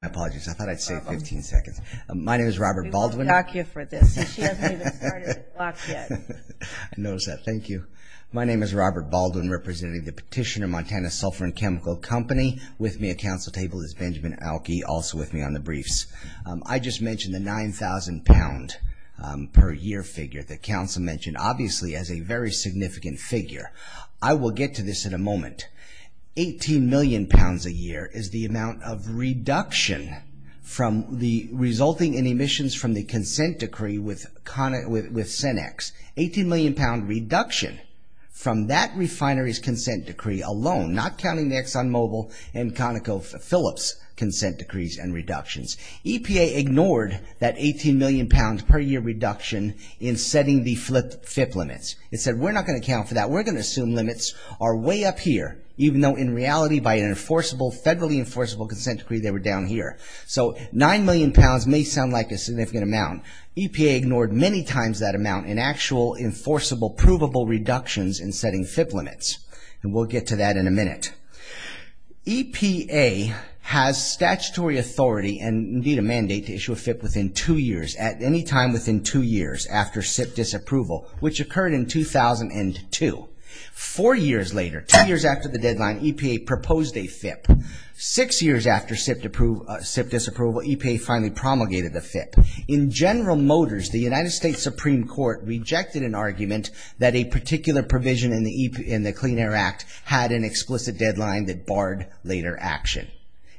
My name is Robert Baldwin representing the Petitioner Montana Sulphur & Chemical Company. With me at council table is Benjamin Alke also with me on the briefs. I just mentioned the 9,000 pound per year figure that council mentioned obviously as a very significant figure. I will get to this in a moment. 18 million pounds a year is the amount of reduction in the amount of carbon dioxide that is released into the atmosphere. 18 million pound reduction resulting in emissions from the consent decree with Cenex. 18 million pound reduction from that refinery's consent decree alone not counting the Exxon Mobil and ConocoPhillips consent decrees and reductions. EPA ignored that 18 million pound per year reduction in setting the FIP limits. It said we're not going to account for that. We're going to assume limits are way up here even though in reality by an enforceable federally enforceable consent decree they were down here. So 9 million pounds may sound like a significant amount. EPA ignored many times that amount in actual enforceable provable reductions in setting FIP limits. We'll get to that in a minute. EPA has statutory authority and indeed a mandate to issue a FIP within two years at any time within two years after SIP disapproval which occurred in 2002. Four years later two years after the deadline EPA proposed a FIP. Six years after SIP disapproval EPA finally promulgated a FIP. In General Motors the United States Supreme Court rejected an argument that a particular provision in the Clean Air Act had an explicit deadline that barred later action.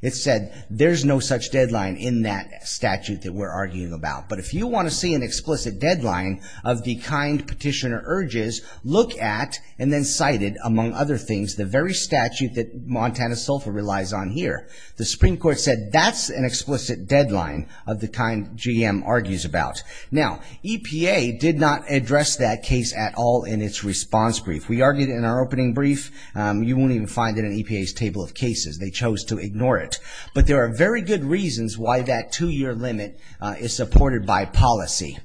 It said there's no such deadline in that statute that we're arguing about but if you want to see an explicit deadline of the kind petitioner urges look at and then cite it among other things the very statute that Montana SOFA relies on here. The Supreme Court said that's an explicit deadline of the kind GM argues about. Now EPA did not address that case at all in its response brief. We argued in our opening brief you won't even find it in EPA's table of cases. They chose to ignore it. But there are very good reasons why that two year limit is supported by policy.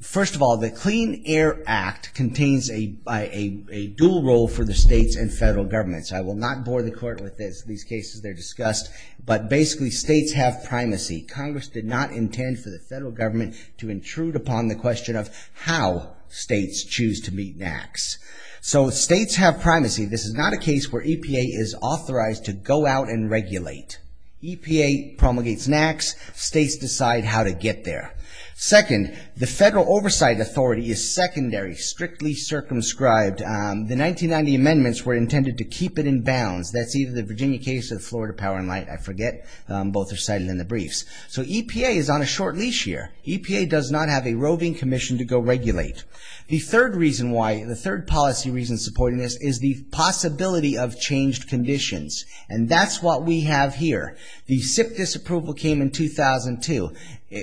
First of all the Clean Air Act contains a dual role for the states and federal governments. I will not bore the court with these cases. They're discussed but basically states have primacy. Congress did not intend for the federal government to intrude upon the question of how states choose to meet NAAQS. So states have primacy. This is not a case where EPA is authorized to go out and regulate. EPA promulgates NAAQS. States decide how to get there. Second, the Federal Oversight Authority is secondary, strictly circumscribed. The 1990 amendments were intended to keep it in bounds. That's either the Virginia case or the Florida Power and Light. I forget. Both are cited in the briefs. So EPA is on a short leash here. EPA does not have a roving commission to go regulate. The third policy reason supporting this is the possibility of changed conditions. And that's what we have here. The SIP disapproval came in 2002.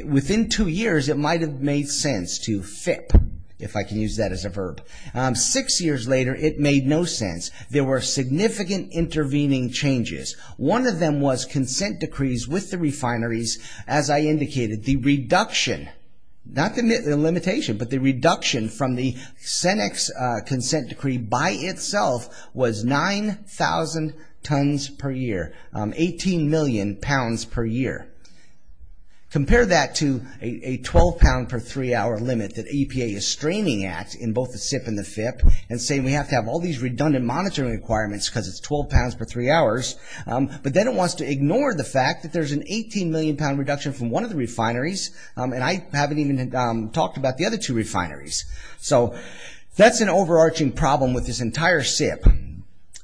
Within two years it might have made sense to FIP, if I can use that as a verb. Six years later it made no sense. There were significant intervening changes. One of them was consent decrees with the refineries, as I indicated. The reduction, not the limitation, but the reduction from the Senex consent decree by itself was 9,000 tons per year, 18 million pounds per year. Compare that to a 12 pound per three hour limit that EPA is straining at in both the SIP and the FIP and say we have to have all these redundant monitoring requirements because it's 12 pounds per three hours. But then it wants to ignore the fact that there's an 18 million pound reduction from one of the refineries and I haven't even talked about the other two refineries. So that's an overarching problem with this entire SIP.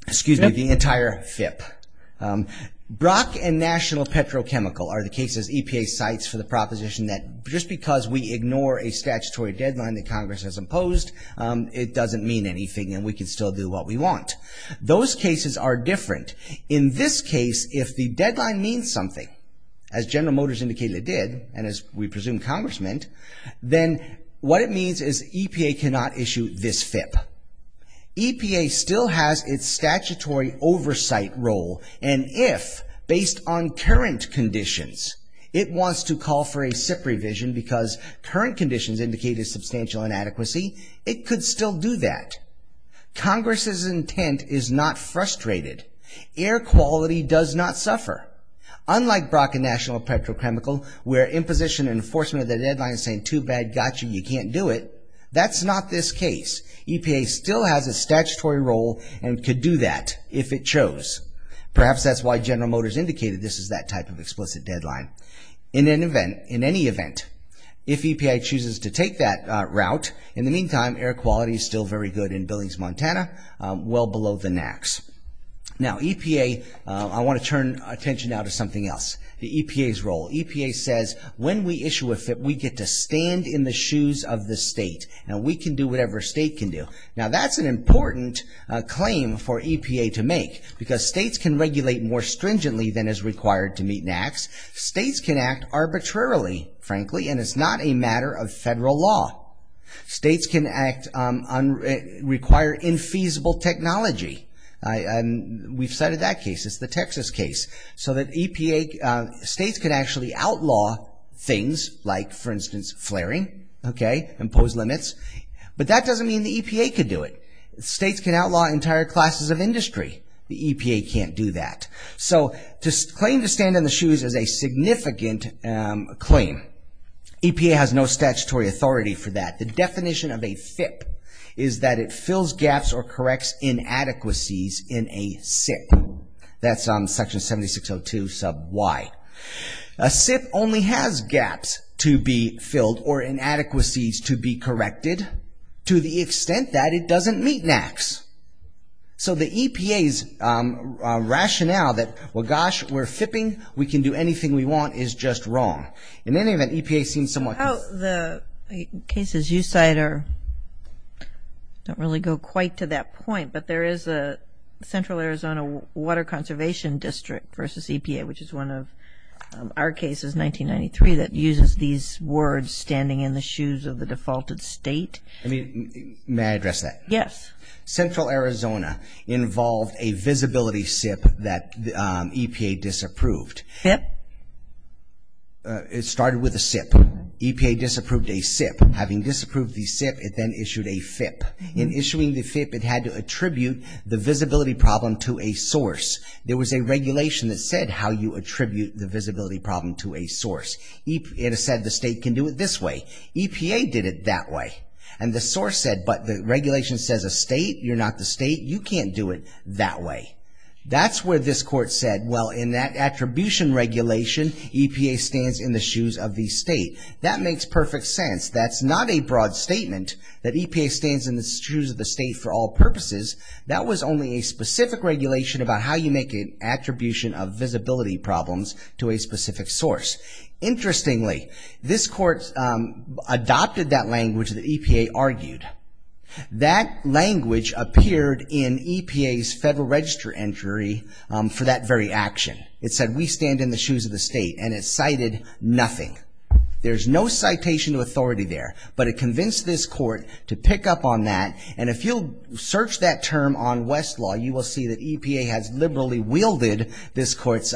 Excuse me, the entire FIP. Brock and National Petrochemical are the cases EPA cites for the proposition that just because we ignore a statutory deadline that Congress has imposed, it doesn't mean anything and we can still do what we want. Those cases are different. In this case, if the deadline means something, as General Motors indicated it did, and as we presume Congress meant, then what it means is EPA cannot issue this FIP. EPA still has its statutory oversight role and if, based on current conditions, it wants to call for a SIP revision because current conditions indicated substantial inadequacy, it could still do that. Congress's intent is not frustrated. Air quality does not suffer. Unlike Brock and National Petrochemical where imposition and enforcement of the deadline is saying too bad, gotcha, you can't do it, that's not this case. EPA still has a statutory role and could do that if it chose. Perhaps that's why General Motors indicated this is that type of explicit deadline. In any event, if EPA chooses to take that route, in the meantime, air quality is still very good in Billings, Montana, well below the NAAQS. Now EPA, I want to turn attention now to something else. The EPA's role. EPA says when we issue a FIP, we get to stand in the shoes of the state and we can do whatever a state can do. Now that's an important claim for EPA to make because states can regulate more stringently than is required to meet NAAQS. States can act arbitrarily, frankly, and it's not a matter of federal law. States can require infeasible technology. We've cited that case. It's the Texas case. States can actually outlaw things like, for instance, flaring, impose limits, but that doesn't mean the EPA could do it. States can outlaw entire classes of industry. The EPA can't do that. So to claim to stand in the shoes is a significant claim. EPA has no statutory authority for that. The definition of a FIP is that it fills gaps or corrects inadequacies in a SIP. That's on section 7602 sub Y. A SIP only has gaps to be filled or inadequacies to be corrected to the extent that it doesn't meet NAAQS. So the EPA's rationale that, well, gosh, we're FIPing, we can do anything we want, is just wrong. In any event, EPA seems somewhat... Central Arizona involved a visibility SIP that EPA disapproved. FIP? It started with a SIP. EPA disapproved a SIP. Having disapproved the SIP, it then issued a FIP. In issuing the FIP, it had to attribute the visibility problem to a source. There was a regulation that said how you attribute the visibility problem to a source. It said the state can do it this way. EPA did it that way. And the source said, but the regulation says a state, you're not the state, you can't do it that way. That's where this court said, well, in that attribution regulation, EPA stands in the shoes of the state. That makes perfect sense. That's not a broad statement that EPA stands in the shoes of the state for all purposes. That was only a specific regulation about how you make an attribution of visibility problems to a specific source. Interestingly, this court adopted that language that EPA argued. That language appeared in EPA's Federal Register entry for that very action. It said, we stand in the shoes of the state. And it cited nothing. There's no citation of authority there. But it convinced this court to pick up on that. And if you'll search that term on Westlaw, you will see that EPA has liberally wielded this court's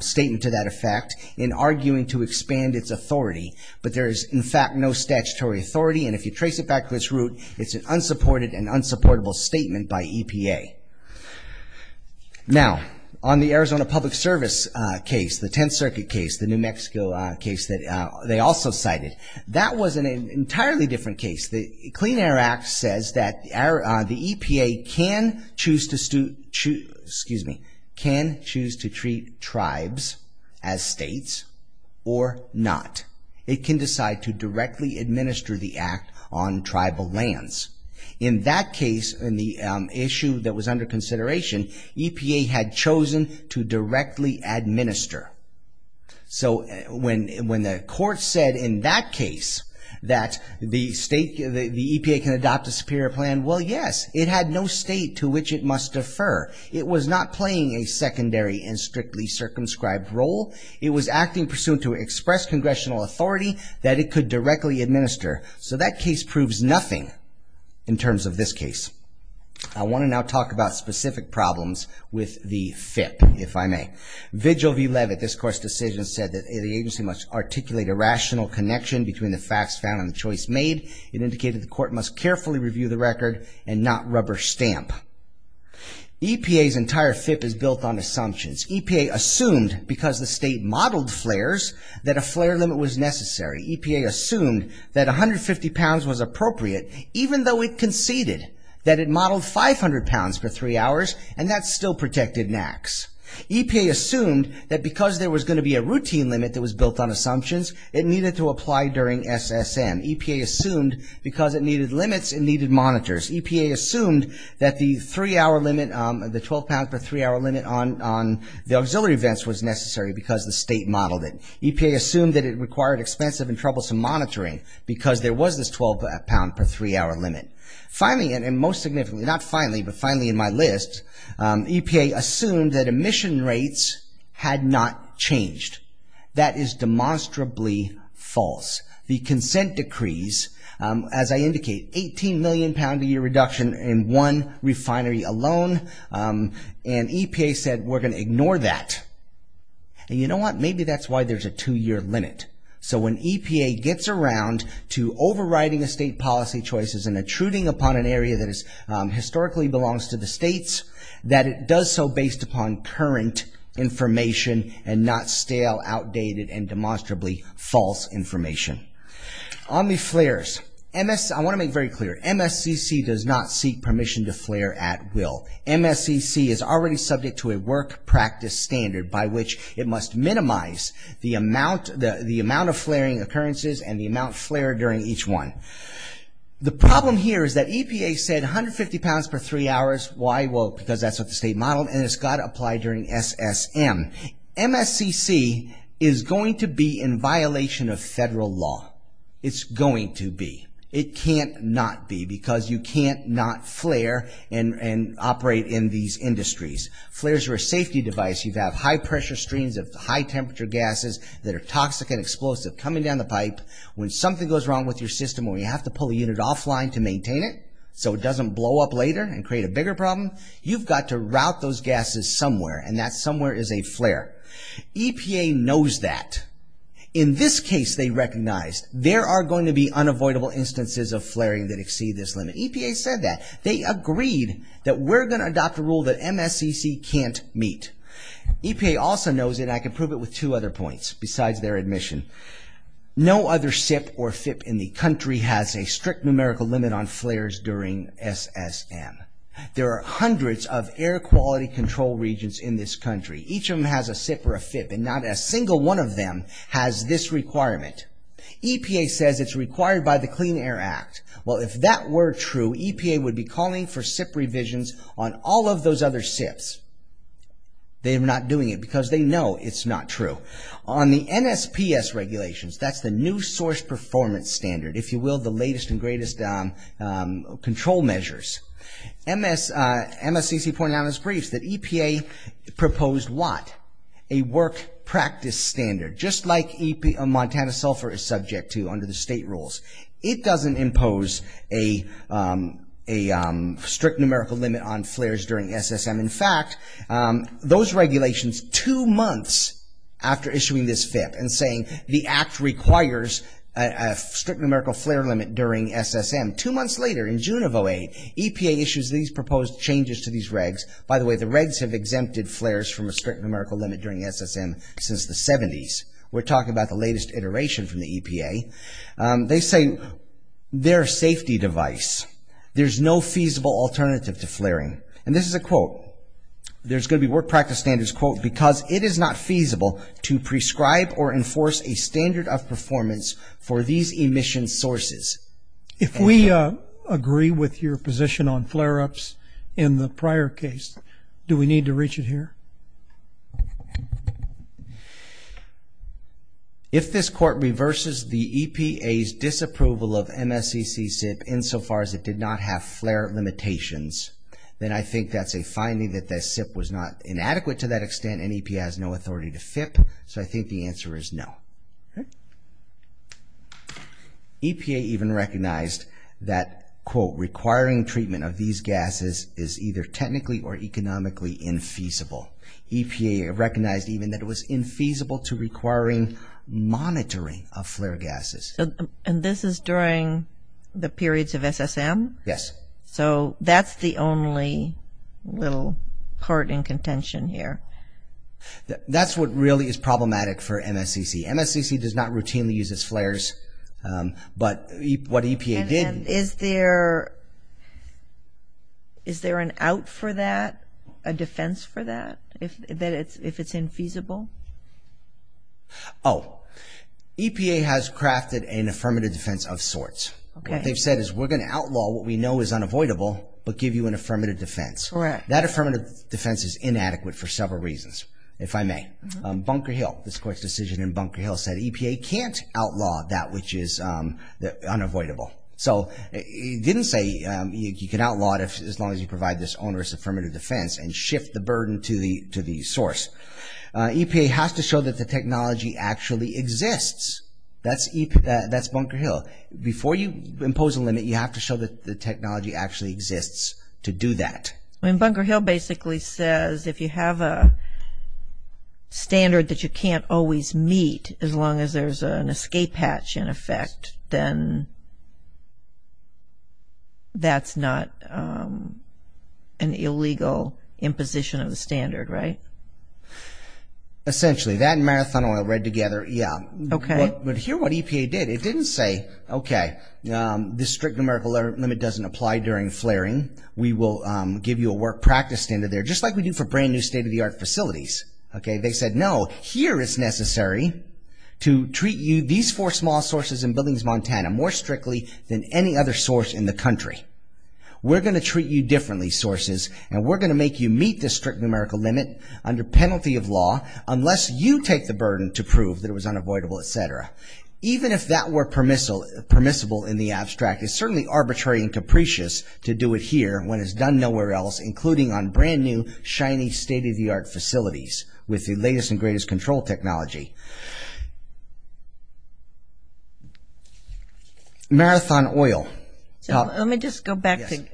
statement to that effect in arguing to expand its authority. But there is, in fact, no statutory authority. And if you trace it back to its root, it's an unsupported and unsupportable statement by EPA. Now, on the Arizona Public Service case, the Tenth Circuit case, the New Mexico case that they also cited, that was an entirely different case. The Clean Air Act says that the EPA can choose to treat tribes as states or not. It can decide to directly administer the act on tribal lands. In that case, in the issue that was under consideration, EPA had chosen to directly administer. So when the court said in that case that the EPA can adopt a superior plan, well, yes. It had no state to which it must defer. It was not playing a secondary and strictly circumscribed role. It was acting pursuant to express congressional authority that it could directly administer. So that case proves nothing in terms of this case. I want to now talk about specific problems with the FIP, if I may. Vigil v. Levitt, this court's decision said that the agency must articulate a rational connection between the facts found and the choice made. It indicated the court must carefully review the record and not rubber stamp. EPA's entire FIP is built on assumptions. EPA assumed, because the state modeled flares, that a flare limit was necessary. EPA assumed that 150 pounds was appropriate, even though it conceded that it modeled 500 pounds for three hours, and that still protected NAAQS. EPA assumed that because there was going to be a routine limit that was built on assumptions, it needed to apply during SSM. EPA assumed because it needed limits, it needed monitors. EPA assumed that the three hour limit, the 12 pound per three hour limit on the auxiliary vents was necessary because the state modeled it. EPA assumed that it required expensive and troublesome monitoring because there was this 12 pound per three hour limit. Finally, and most significantly, not finally, but finally in my list, EPA assumed that emission rates had not changed. That is demonstrably false. The consent decrees, as I indicate, 18 million pound a year reduction in one refinery alone, and EPA said we're going to ignore that. And you know what, maybe that's why there's a two year limit. So when EPA gets around to overriding the state policy choices and intruding upon an area that historically belongs to the states, that it does so based upon current information and not stale, outdated, and demonstrably false information. On the flares, I want to make very clear, MSCC does not seek permission to flare at will. MSCC is already subject to a work practice standard by which it must minimize the amount of flaring occurrences and the amount flared during each one. The problem here is that EPA said 150 pounds per three hours. Why? Well, because that's what the state modeled and it's got to apply during SSM. MSCC is going to be in violation of federal law. It's going to be. It can't not be because you can't not flare and operate in these industries. Flares are a safety device. You have high pressure streams of high temperature gases that are toxic and explosive coming down the pipe. When something goes wrong with your system or you have to pull a unit offline to maintain it so it doesn't blow up later and create a bigger problem, you've got to route those gases somewhere and that somewhere is a flare. EPA knows that. In this case they recognized there are going to be unavoidable instances of flaring that exceed this limit. EPA said that. They agreed that we're going to adopt a rule that MSCC can't meet. EPA also knows, and I can prove it with two other points besides their admission, no other SIP or FIP in the country has a strict numerical limit on flares during SSM. There are hundreds of air quality control regions in this country. Each of them has a SIP or a FIP and not a single one of them has this requirement. EPA says it's required by the Clean Air Act. Well, if that were true, EPA would be calling for SIP revisions on all of those other SIPs. They are not doing it because they know it's not true. On the NSPS regulations, that's the New Source Performance Standard, if you will, the latest and greatest control measures. MSCC pointed out in its briefs that EPA proposed what? A work practice standard, just like Montana sulfur is subject to under the state rules. It doesn't impose a strict numerical limit on flares during SSM. In fact, those regulations, two months after issuing this FIP and saying the act requires a strict numerical flare limit during SSM, two months later in June of 2008, EPA issues these proposed changes to these regs. By the way, the regs have exempted flares from a strict numerical limit during SSM since the 70s. We're talking about the latest iteration from the EPA. They say they're a safety device. There's no feasible alternative to flaring. And this is a quote. There's going to be work practice standards, quote, because it is not feasible to prescribe or enforce a standard of performance for these emission sources. If we agree with your position on flare-ups in the prior case, do we need to reach it here? If this court reverses the EPA's disapproval of MSCC SIP insofar as it did not have flare limitations, then I think that's a finding that the SIP was not inadequate to that extent and EPA has no authority to FIP, so I think the answer is no. EPA even recognized that, quote, requiring treatment of these gases is either technically or economically infeasible. EPA recognized even that it was infeasible to requiring monitoring of flare gases. And this is during the periods of SSM? Yes. So that's the only little part in contention here. That's what really is problematic for MSCC. MSCC does not routinely use its flares, but what EPA did... And is there an out for that, a defense for that, if it's infeasible? Oh, EPA has crafted an affirmative defense of sorts. What they've said is we're going to outlaw what we know is unavoidable, but give you an affirmative defense. That affirmative defense is inadequate for several reasons, if I may. Bunker Hill, this court's decision in Bunker Hill said EPA can't outlaw that which is unavoidable. So it didn't say you can outlaw it as long as you provide this onerous affirmative defense and shift the burden to the source. EPA has to show that the technology actually exists. That's Bunker Hill. Before you impose a limit, you have to show that the technology actually exists to do that. Bunker Hill basically says if you have a standard that you can't always meet as long as there's an escape hatch in effect, then that's not an illegal imposition of the standard, right? Essentially. That and Marathon Oil read together, yeah. Okay. But hear what EPA did. It didn't say, okay, this strict numerical limit doesn't apply during flaring. We will give you a work practice standard there, just like we do for brand-new state-of-the-art facilities. They said, no, here it's necessary to treat these four small sources in Buildings, Montana more strictly than any other source in the country. We're going to treat you differently, sources, and we're going to make you meet this strict numerical limit under penalty of law unless you take the burden to prove that it was unavoidable, etc. Even if that were permissible in the abstract, it's certainly arbitrary and capricious to do it here when it's done nowhere else, including on brand-new, shiny, state-of-the-art facilities with the latest and greatest control technology. Marathon Oil. Let me just go back to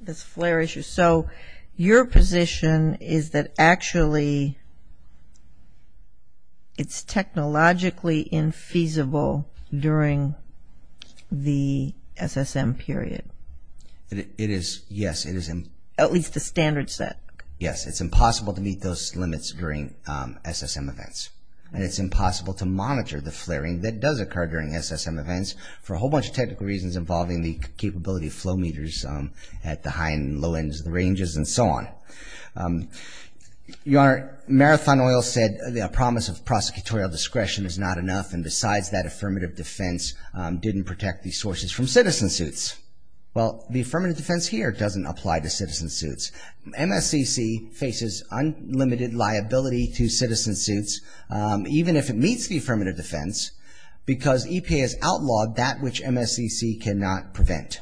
this flare issue. So your position is that actually it's technologically infeasible during the SSM period. It is, yes, it is. At least the standard set. Yes, it's impossible to meet those limits during SSM events, and it's impossible to monitor the flaring that does occur during SSM events for a whole bunch of technical reasons involving the capability of flow meters at the high and low ends of the ranges and so on. Your Honor, Marathon Oil said a promise of prosecutorial discretion is not enough, and decides that affirmative defense didn't protect the sources from citizen suits. Well, the affirmative defense here doesn't apply to citizen suits. MSCC faces unlimited liability to citizen suits, even if it meets the affirmative defense, because EPA has outlawed that which MSCC cannot prevent.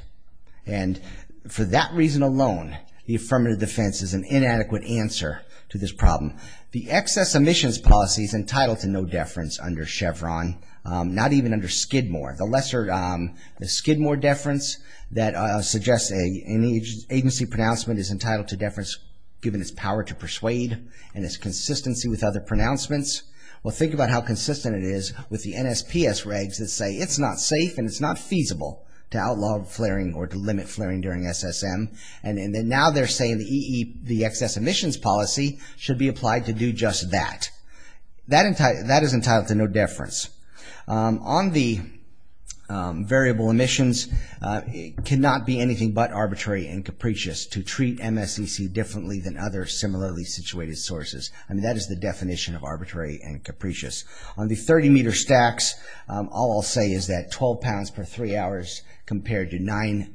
And for that reason alone, the affirmative defense is an inadequate answer to this problem. The excess emissions policy is entitled to no deference under Chevron, not even under Skidmore. The Skidmore deference that suggests an agency pronouncement is entitled to deference, given its power to persuade and its consistency with other pronouncements. Well, think about how consistent it is with the NSPS regs that say it's not safe and it's not feasible to outlaw flaring or to limit flaring during SSM. And now they're saying the excess emissions policy should be applied to do just that. That is entitled to no deference. On the variable emissions, it cannot be anything but arbitrary and capricious to treat MSCC differently than other similarly situated sources. That is the definition of arbitrary and capricious. On the 30-meter stacks, all I'll say is that 12 pounds per three hours compared to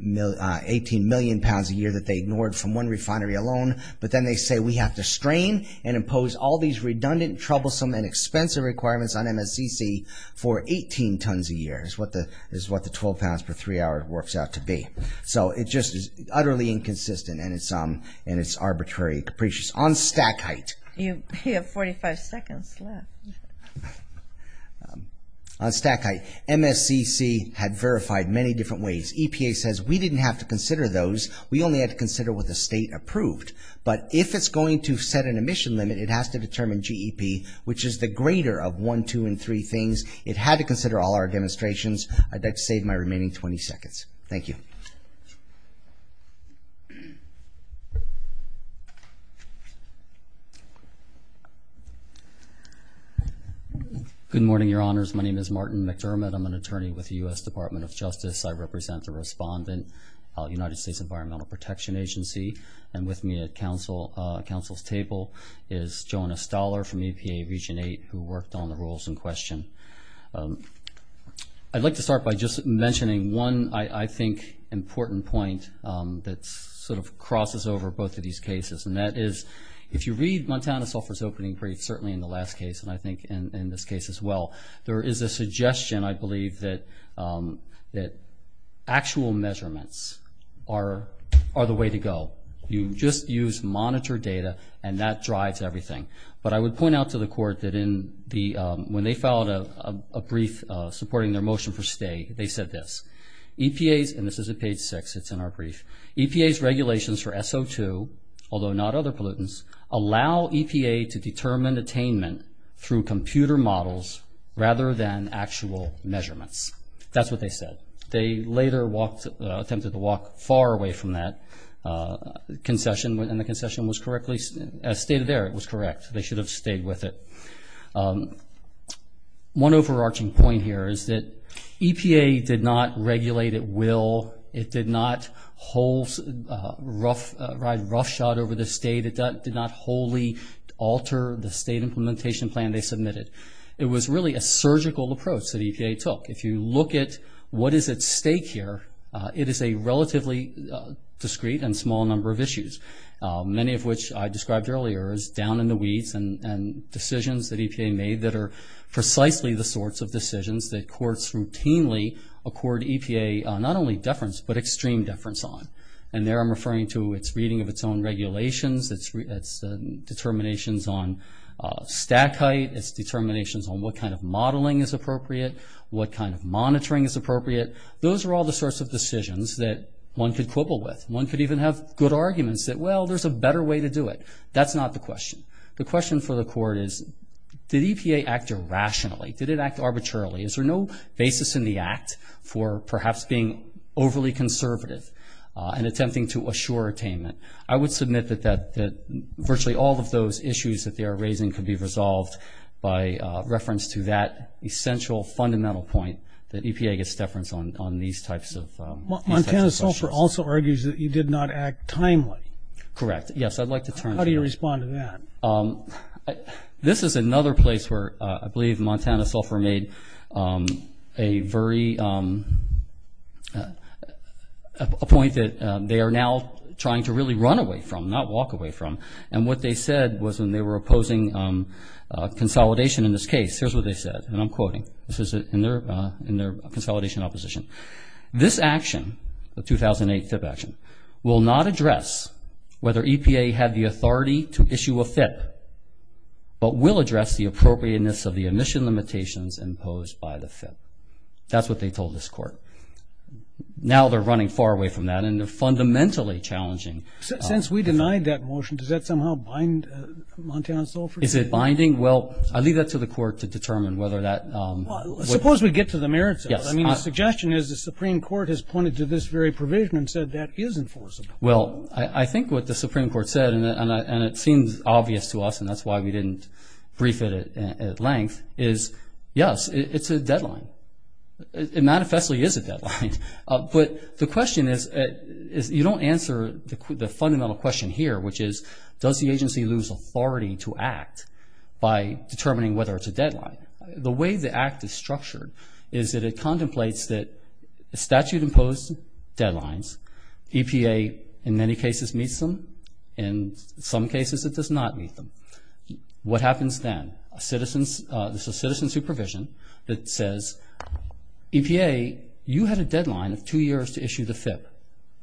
18 million pounds a year that they ignored from one refinery alone. But then they say we have to strain and impose all these redundant, troublesome, and expensive requirements on MSCC for 18 tons a year, is what the 12 pounds per three hour works out to be. So it just is utterly inconsistent and it's arbitrary and capricious. You have 45 seconds left. On stack height, MSCC had verified many different ways. EPA says we didn't have to consider those. We only had to consider what the state approved. But if it's going to set an emission limit, it has to determine GEP, which is the greater of one, two, and three things. It had to consider all our demonstrations. I'd like to save my remaining 20 seconds. Thank you. Good morning, Your Honors. My name is Martin McDermott. I'm an attorney with the U.S. Department of Justice. I represent the respondent, United States Environmental Protection Agency, and with me at Council's table is Jonah Stoller from EPA Region 8 who worked on the rules in question. I'd like to start by just mentioning one, I think, important point that sort of crosses over both of these cases, and that is if you read Montana Software's opening brief, certainly in the last case and I think in this case as well, there is a suggestion, I believe, that actual measurements are the way to go. You just use monitored data and that drives everything. But I would point out to the Court that when they filed a brief supporting their motion for stay, they said this, EPA's, and this is at page six, it's in our brief, EPA's regulations for SO2, although not other pollutants, allow EPA to determine attainment through computer models rather than actual measurements. That's what they said. They later attempted to walk far away from that concession, and the concession was correctly stated there. It was correct. They should have stayed with it. One overarching point here is that EPA did not regulate at will. It did not ride roughshod over the state. It did not wholly alter the state implementation plan they submitted. It was really a surgical approach that EPA took. If you look at what is at stake here, it is a relatively discreet and small number of issues, many of which I described earlier as down in the weeds and decisions that EPA made that are precisely the sorts of decisions that courts routinely accord EPA not only deference but extreme deference on. And there I'm referring to its reading of its own regulations, its determinations on stack height, its determinations on what kind of modeling is appropriate, what kind of monitoring is appropriate. Those are all the sorts of decisions that one could quibble with. One could even have good arguments that, well, there's a better way to do it. That's not the question. The question for the court is, did EPA act irrationally? Did it act arbitrarily? Is there no basis in the act for perhaps being overly conservative and attempting to assure attainment? I would submit that virtually all of those issues that they are raising could be resolved by reference to that essential fundamental point that EPA gets deference on these types of questions. Montana Sulphur also argues that you did not act timely. Correct. Yes, I'd like to turn to that. How do you respond to that? This is another place where I believe Montana Sulphur made a very ñ not walk away from, and what they said was when they were opposing consolidation in this case, here's what they said, and I'm quoting. This is in their consolidation opposition. This action, the 2008 FIP action, will not address whether EPA had the authority to issue a FIP, but will address the appropriateness of the emission limitations imposed by the FIP. That's what they told this court. Now they're running far away from that, and they're fundamentally challenging. Since we denied that motion, does that somehow bind Montana Sulphur? Is it binding? Well, I'll leave that to the court to determine whether that ñ Suppose we get to the merits of it. Yes. I mean, the suggestion is the Supreme Court has pointed to this very provision and said that is enforceable. Well, I think what the Supreme Court said, and it seems obvious to us, and that's why we didn't brief it at length, is, yes, it's a deadline. It manifestly is a deadline. But the question is, you don't answer the fundamental question here, which is does the agency lose authority to act by determining whether it's a deadline. The way the act is structured is that it contemplates that statute-imposed deadlines, EPA in many cases meets them, in some cases it does not meet them. What happens then? There's a citizen supervision that says, EPA, you had a deadline of two years to issue the FIP.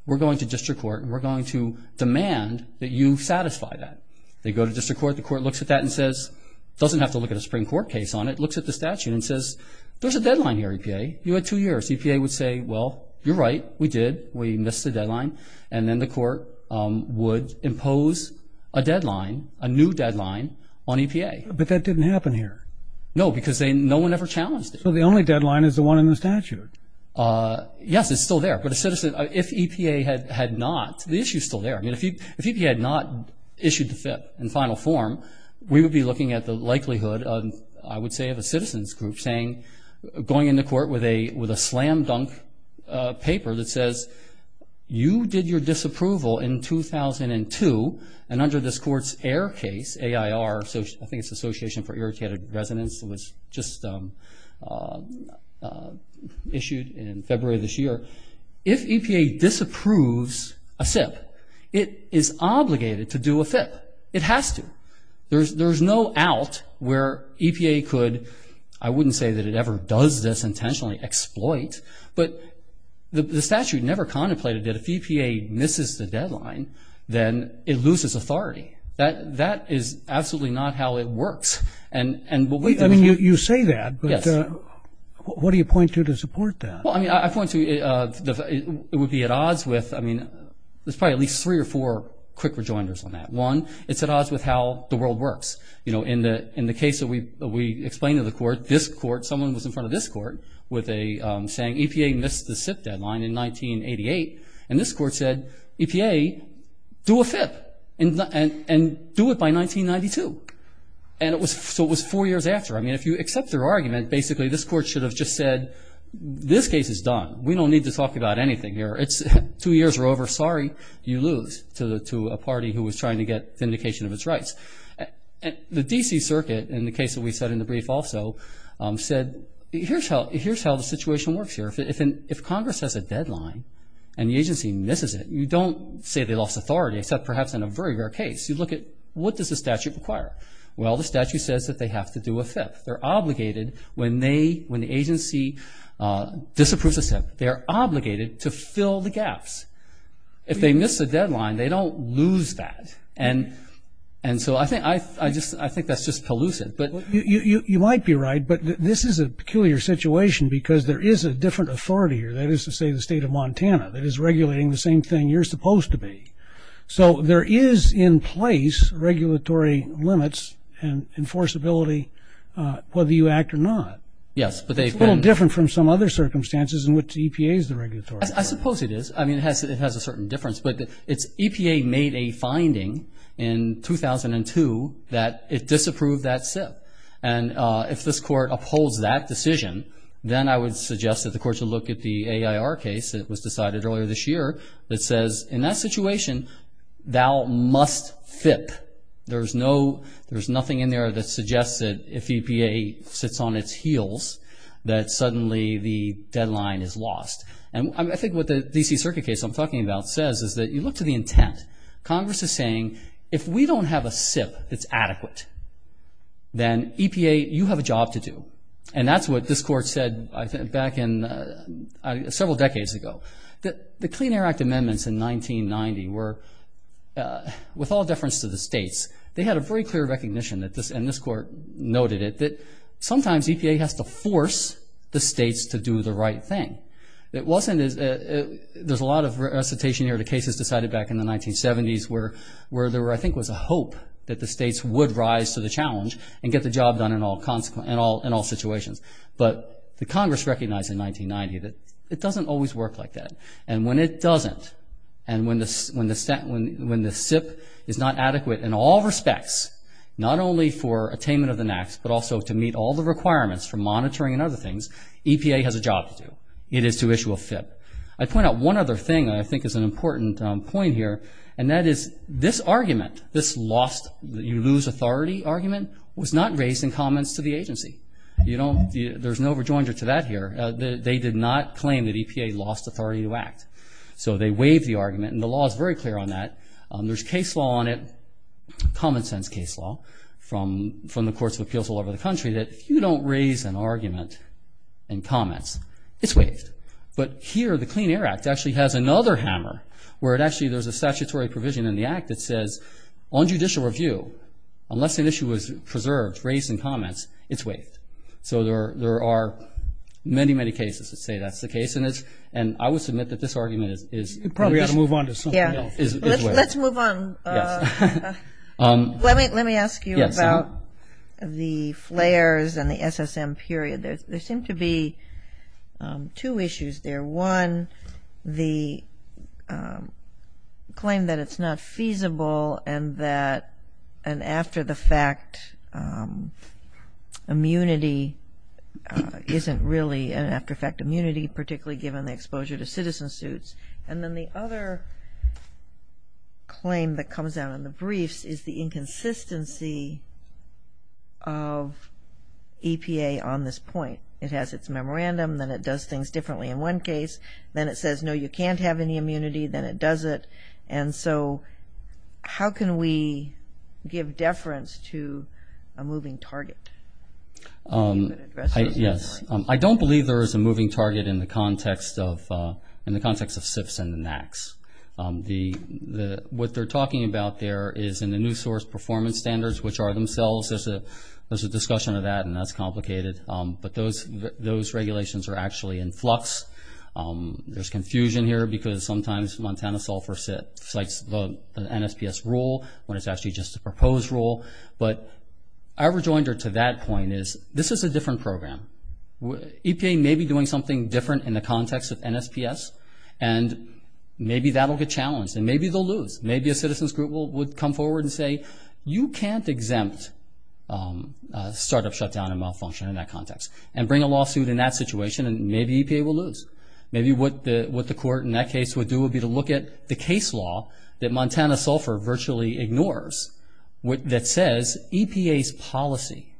We're going to district court, and we're going to demand that you satisfy that. They go to district court. The court looks at that and says, doesn't have to look at a Supreme Court case on it, looks at the statute and says, there's a deadline here, EPA. You had two years. EPA would say, well, you're right, we did, we missed the deadline. And then the court would impose a deadline, a new deadline on EPA. But that didn't happen here. No, because no one ever challenged it. So the only deadline is the one in the statute. Yes, it's still there. But if EPA had not, the issue is still there. I mean, if EPA had not issued the FIP in final form, we would be looking at the likelihood, I would say, of a citizen's group saying, going into court with a slam dunk paper that says, you did your disapproval in 2002, and under this court's AIR case, A-I-R, I think it's Association for Irritated Residents, it was just issued in February of this year. If EPA disapproves a SIP, it is obligated to do a FIP. It has to. There's no out where EPA could, I wouldn't say that it ever does this intentionally, exploit. But the statute never contemplated that if EPA misses the deadline, then it loses authority. That is absolutely not how it works. I mean, you say that, but what do you point to to support that? Well, I mean, I point to it would be at odds with, I mean, there's probably at least three or four quick rejoinders on that. One, it's at odds with how the world works. You know, in the case that we explained to the court, this court, someone was in front of this court saying EPA missed the SIP deadline in 1988, and this court said, EPA, do a FIP and do it by 1992. And so it was four years after. I mean, if you accept their argument, basically this court should have just said, this case is done. We don't need to talk about anything here. Two years are over. Sorry, you lose to a party who was trying to get vindication of its rights. The D.C. Circuit, in the case that we said in the brief also, said, here's how the situation works here. If Congress has a deadline and the agency misses it, you don't say they lost authority except perhaps in a very rare case. You look at what does the statute require. Well, the statute says that they have to do a FIP. They're obligated when the agency disapproves a SIP, they are obligated to fill the gaps. If they miss the deadline, they don't lose that. And so I think that's just elusive. You might be right, but this is a peculiar situation because there is a different authority here, that is to say the state of Montana, that is regulating the same thing you're supposed to be. So there is in place regulatory limits and enforceability whether you act or not. Yes, but they've been ---- It's a little different from some other circumstances in which EPA is the regulator. I suppose it is. I mean, it has a certain difference, but EPA made a finding in 2002 that it disapproved that SIP. And if this Court upholds that decision, then I would suggest that the Court should look at the AIR case that was decided earlier this year that says in that situation, thou must FIP. There's nothing in there that suggests that if EPA sits on its heels, that suddenly the deadline is lost. And I think what the D.C. Circuit case I'm talking about says is that you look to the intent. Congress is saying if we don't have a SIP that's adequate, then EPA, you have a job to do. And that's what this Court said back several decades ago. The Clean Air Act amendments in 1990 were, with all deference to the states, they had a very clear recognition, and this Court noted it, that sometimes EPA has to force the states to do the right thing. There's a lot of recitation here to cases decided back in the 1970s where there, I think, was a hope that the states would rise to the challenge and get the job done in all situations. But the Congress recognized in 1990 that it doesn't always work like that. And when it doesn't, and when the SIP is not adequate in all respects, not only for attainment of the NAAQS, but also to meet all the requirements for monitoring and other things, EPA has a job to do. It is to issue a FIP. I'd point out one other thing that I think is an important point here, and that is this argument, this lost, you lose authority argument, was not raised in comments to the agency. There's no rejoinder to that here. They did not claim that EPA lost authority to act. So they waived the argument, and the law is very clear on that. There's case law on it, common sense case law, from the courts of appeals all over the country, that if you don't raise an argument in comments, it's waived. But here, the Clean Air Act actually has another hammer where actually there's a statutory provision in the act that says, on judicial review, unless an issue is preserved, raised in comments, it's waived. So there are many, many cases that say that's the case, and I would submit that this argument is waived. Let's move on. Let me ask you about the flares and the SSM period. There seem to be two issues there. One, the claim that it's not feasible and that an after-the-fact immunity isn't really an after-the-fact immunity, particularly given the exposure to citizen suits. And then the other claim that comes out in the briefs is the inconsistency of EPA on this point. It has its memorandum. Then it does things differently in one case. Then it says, no, you can't have any immunity. Then it doesn't. And so how can we give deference to a moving target? Yes. I don't believe there is a moving target in the context of SIFs and the NACs. What they're talking about there is in the new source performance standards, which are themselves, there's a discussion of that, and that's complicated. But those regulations are actually in flux. There's confusion here because sometimes Montana Sulfur cites the NSPS rule when it's actually just a proposed rule. But our rejoinder to that point is this is a different program. EPA may be doing something different in the context of NSPS, and maybe that will get challenged, and maybe they'll lose. Maybe a citizen's group would come forward and say, you can't exempt startup shutdown and malfunction in that context and bring a lawsuit in that situation, and maybe EPA will lose. Maybe what the court in that case would do would be to look at the case law that Montana Sulfur virtually ignores that says EPA's policy,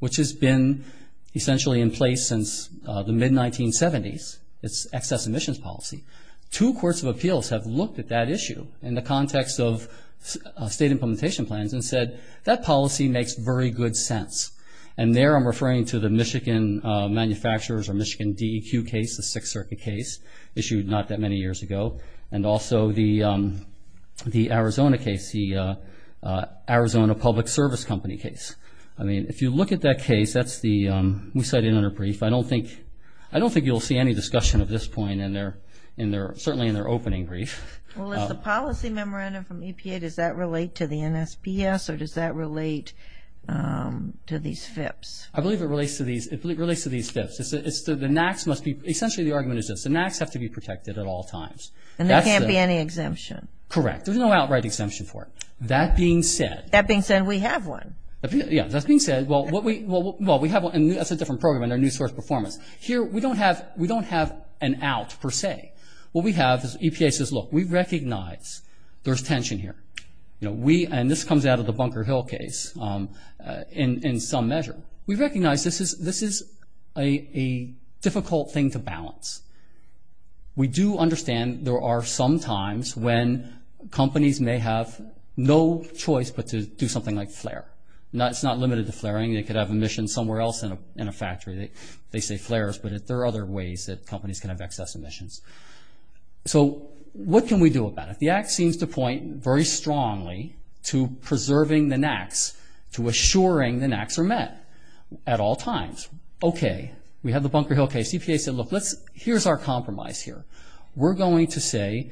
which has been essentially in place since the mid-1970s, its excess emissions policy. Two courts of appeals have looked at that issue in the context of state implementation plans and said that policy makes very good sense. And there I'm referring to the Michigan manufacturers or Michigan DEQ case, the Sixth Circuit case issued not that many years ago, and also the Arizona case, the Arizona Public Service Company case. I mean, if you look at that case, that's the, we cited it in our brief. I don't think you'll see any discussion of this point certainly in their opening brief. Well, if the policy memorandum from EPA, does that relate to the NSPS, or does that relate to these FIPS? I believe it relates to these FIPS. Essentially the argument is this. The NACs have to be protected at all times. And there can't be any exemption? Correct. There's no outright exemption for it. That being said. That being said, we have one. That being said, well, we have one. That's a different program in our new source performance. Here we don't have an out per se. What we have is EPA says, look, we recognize there's tension here. And this comes out of the Bunker Hill case in some measure. We recognize this is a difficult thing to balance. We do understand there are some times when companies may have no choice but to do something like flare. It's not limited to flaring. They could have emissions somewhere else in a factory. They say flares, but there are other ways that companies can have excess emissions. So what can we do about it? The act seems to point very strongly to preserving the NACs, to assuring the NACs are met at all times. Okay. We have the Bunker Hill case. EPA said, look, here's our compromise here. We're going to say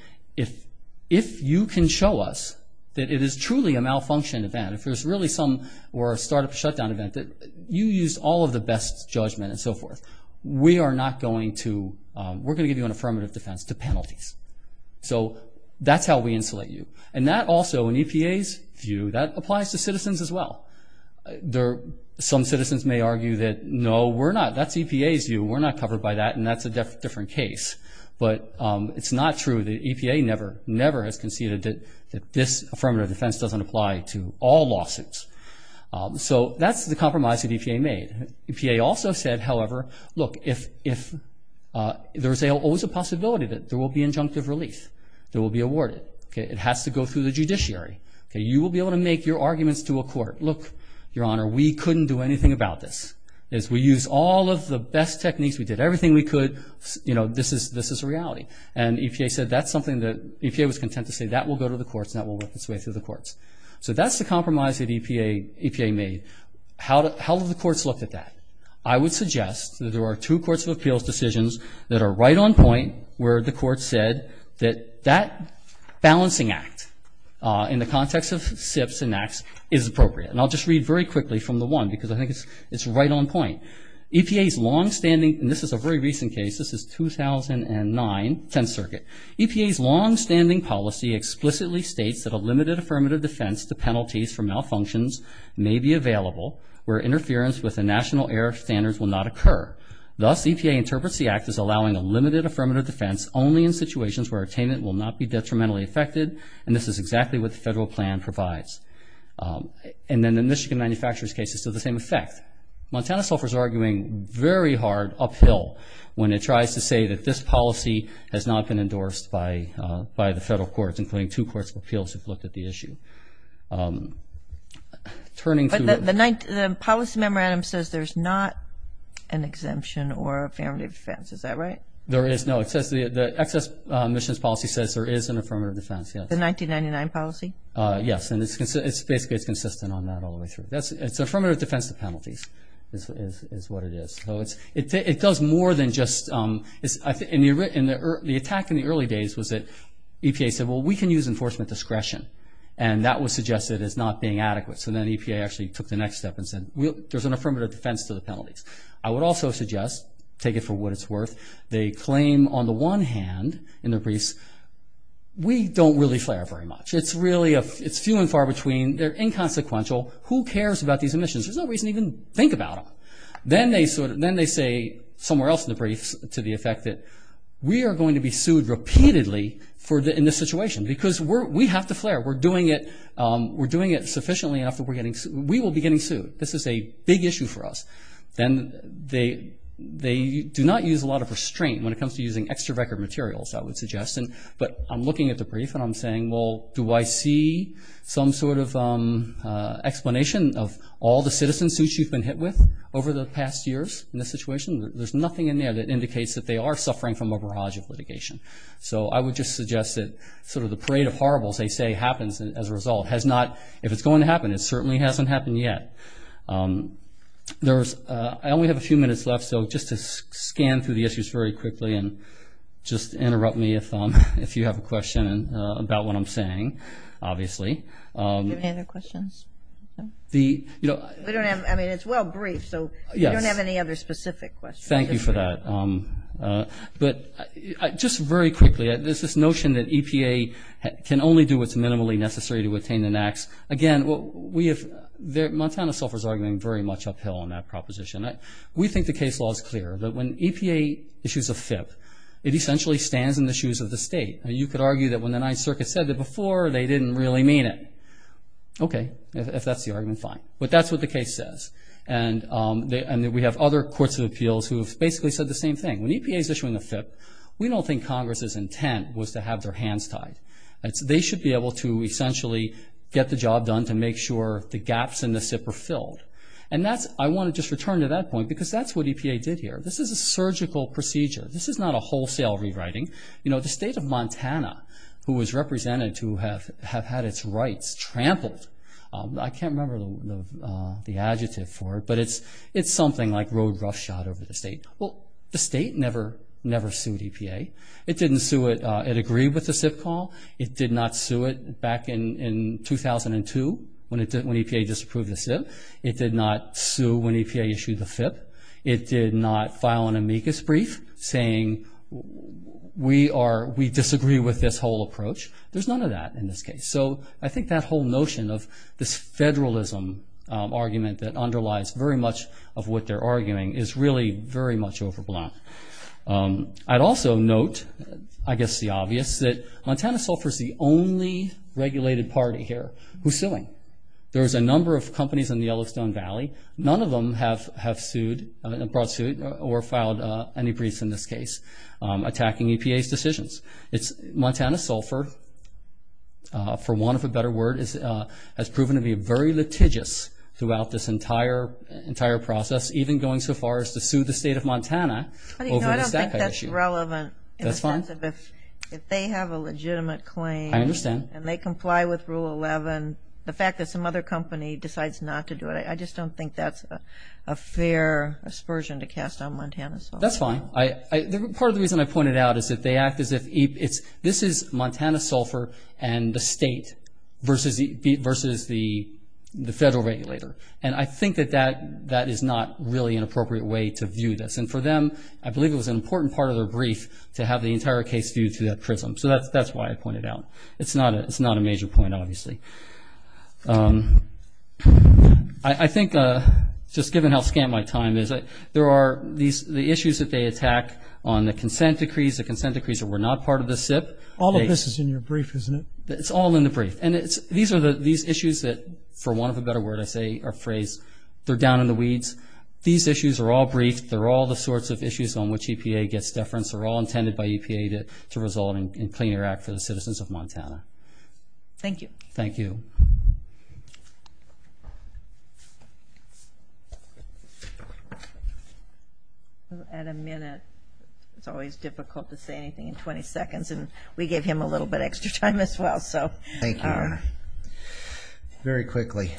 if you can show us that it is truly a malfunction event, if there's really some or a startup shutdown event, that you used all of the best judgment and so forth, we are not going to – we're going to give you an affirmative defense to penalties. So that's how we insulate you. And that also, in EPA's view, that applies to citizens as well. Some citizens may argue that, no, we're not. That's EPA's view. We're not covered by that, and that's a different case. But it's not true. The EPA never has conceded that this affirmative defense doesn't apply to all lawsuits. So that's the compromise that EPA made. EPA also said, however, look, if there's always a possibility that there will be injunctive relief that will be awarded. It has to go through the judiciary. You will be able to make your arguments to a court. Look, Your Honor, we couldn't do anything about this. We used all of the best techniques. We did everything we could. You know, this is reality. And EPA said that's something that – EPA was content to say that will go to the courts and that will work its way through the courts. So that's the compromise that EPA made. How have the courts looked at that? I would suggest that there are two courts of appeals decisions that are right on point where the courts said that that balancing act, in the context of SIPs and NACs, is appropriate. And I'll just read very quickly from the one because I think it's right on point. EPA's longstanding – and this is a very recent case. This is 2009, 10th Circuit. EPA's longstanding policy explicitly states that a limited affirmative defense to penalties for malfunctions may be available where interference with the national air standards will not occur. Thus, EPA interprets the act as allowing a limited affirmative defense only in situations where attainment will not be detrimentally affected, and this is exactly what the federal plan provides. And then the Michigan manufacturers case is to the same effect. Montana suffers arguing very hard uphill when it tries to say that this policy has not been endorsed by the federal courts, including two courts of appeals who've looked at the issue. But the policy memorandum says there's not an exemption or affirmative defense. Is that right? There is, no. It says the excess emissions policy says there is an affirmative defense, yes. The 1999 policy? Yes, and basically it's consistent on that all the way through. It's affirmative defense to penalties is what it is. It does more than just – the attack in the early days was that EPA said, well, we can use enforcement discretion, and that was suggested as not being adequate. So then EPA actually took the next step and said, there's an affirmative defense to the penalties. I would also suggest, take it for what it's worth, they claim on the one hand in their briefs, we don't really flare up very much. It's really few and far between. They're inconsequential. Who cares about these emissions? There's no reason to even think about them. Then they say somewhere else in the briefs to the effect that we are going to be sued repeatedly in this situation because we have to flare. We're doing it sufficiently enough that we will be getting sued. This is a big issue for us. Then they do not use a lot of restraint when it comes to using extra record materials, I would suggest. But I'm looking at the brief and I'm saying, well, do I see some sort of explanation of all the citizen suits you've been hit with over the past years in this situation? There's nothing in there that indicates that they are suffering from a barrage of litigation. So I would just suggest that sort of the parade of horribles they say happens as a result. If it's going to happen, it certainly hasn't happened yet. I only have a few minutes left, so just to scan through the issues very quickly and just interrupt me if you have a question about what I'm saying, obviously. Do you have any other questions? I mean, it's well briefed, so we don't have any other specific questions. Thank you for that. But just very quickly, there's this notion that EPA can only do what's minimally necessary to attain the NAAQS. Again, Montana suffers arguing very much uphill on that proposition. We think the case law is clear that when EPA issues a FIP, it essentially stands in the shoes of the state. You could argue that when the Ninth Circuit said that before, they didn't really mean it. Okay, if that's the argument, fine. But that's what the case says. And we have other courts of appeals who have basically said the same thing. When EPA is issuing a FIP, we don't think Congress's intent was to have their hands tied. They should be able to essentially get the job done to make sure the gaps in the SIP are filled. And I want to just return to that point because that's what EPA did here. This is a surgical procedure. This is not a wholesale rewriting. You know, the state of Montana, who was represented to have had its rights trampled, I can't remember the adjective for it, but it's something like road roughshod over the state. Well, the state never sued EPA. It didn't sue it. It agreed with the SIP call. It did not sue it back in 2002 when EPA disapproved the SIP. It did not sue when EPA issued the FIP. It did not file an amicus brief saying we disagree with this whole approach. There's none of that in this case. So I think that whole notion of this federalism argument that underlies very much of what they're arguing is really very much overblown. I'd also note, I guess the obvious, that Montana Sulfur is the only regulated party here who's suing. There's a number of companies in the Yellowstone Valley. None of them have brought suit or filed any briefs in this case attacking EPA's decisions. Montana Sulfur, for want of a better word, has proven to be very litigious throughout this entire process, even going so far as to sue the state of Montana over the stack height issue. I don't think that's relevant in the sense of if they have a legitimate claim I understand. And they comply with Rule 11. The fact that some other company decides not to do it, I just don't think that's a fair aspersion to cast on Montana Sulfur. That's fine. Part of the reason I pointed out is that they act as if this is Montana Sulfur and the state versus the federal regulator. And I think that that is not really an appropriate way to view this. And for them, I believe it was an important part of their brief to have the entire case viewed through that prism. So that's why I pointed out. It's not a major point, obviously. I think, just given how scant my time is, there are the issues that they attack on the consent decrees, the consent decrees that were not part of the SIP. All of this is in your brief, isn't it? It's all in the brief. And these issues that, for want of a better word, I say or phrase, they're down in the weeds. These issues are all brief. They're all the sorts of issues on which EPA gets deference. They're all intended by EPA to result in a Clean Air Act for the citizens of Montana. Thank you. Thank you. At a minute, it's always difficult to say anything in 20 seconds, and we gave him a little bit of extra time as well. Thank you. Very quickly,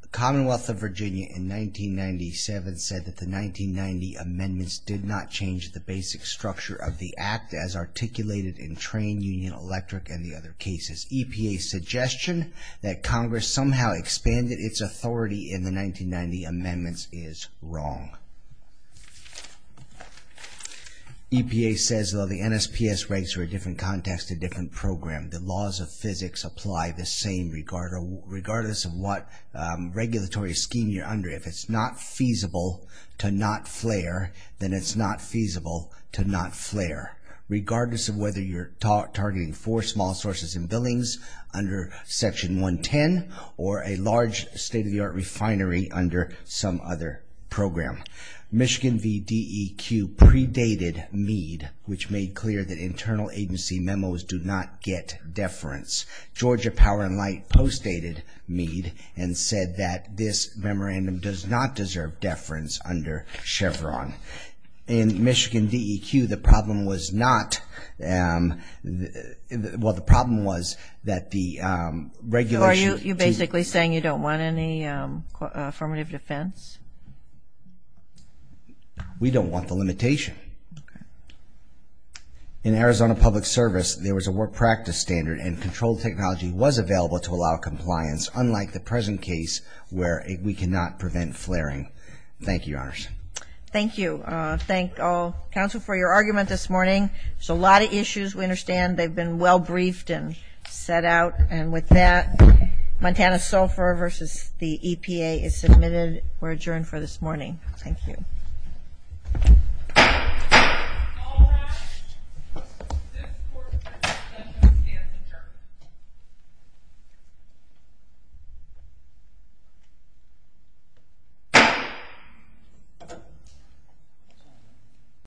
the Commonwealth of Virginia, in 1997, said that the 1990 amendments did not change the basic structure of the act as articulated in train, union, electric, and the other cases. EPA's suggestion that Congress somehow expanded its authority in the 1990 amendments is wrong. EPA says, well, the NSPS rates are a different context, a different program. The laws of physics apply the same, regardless of what regulatory scheme you're under. If it's not feasible to not flare, then it's not feasible to not flare, regardless of whether you're targeting four small sources and buildings under Section 110 or a large state-of-the-art refinery under some other program. Michigan VDEQ predated Mead, which made clear that internal agency memos do not get deference. Georgia Power & Light postdated Mead and said that this memorandum does not deserve deference under Chevron. In Michigan VDEQ, the problem was not the regulation. You're basically saying you don't want any affirmative defense? We don't want the limitation. In Arizona Public Service, there was a work practice standard and controlled technology was available to allow compliance, unlike the present case where we cannot prevent flaring. Thank you, Your Honors. Thank you. Thank all counsel for your argument this morning. There's a lot of issues we understand. They've been well briefed and set out. And with that, Montana SOFR versus the EPA is submitted. We're adjourned for this morning. Thank you. It's all wrapped. This court is adjourned.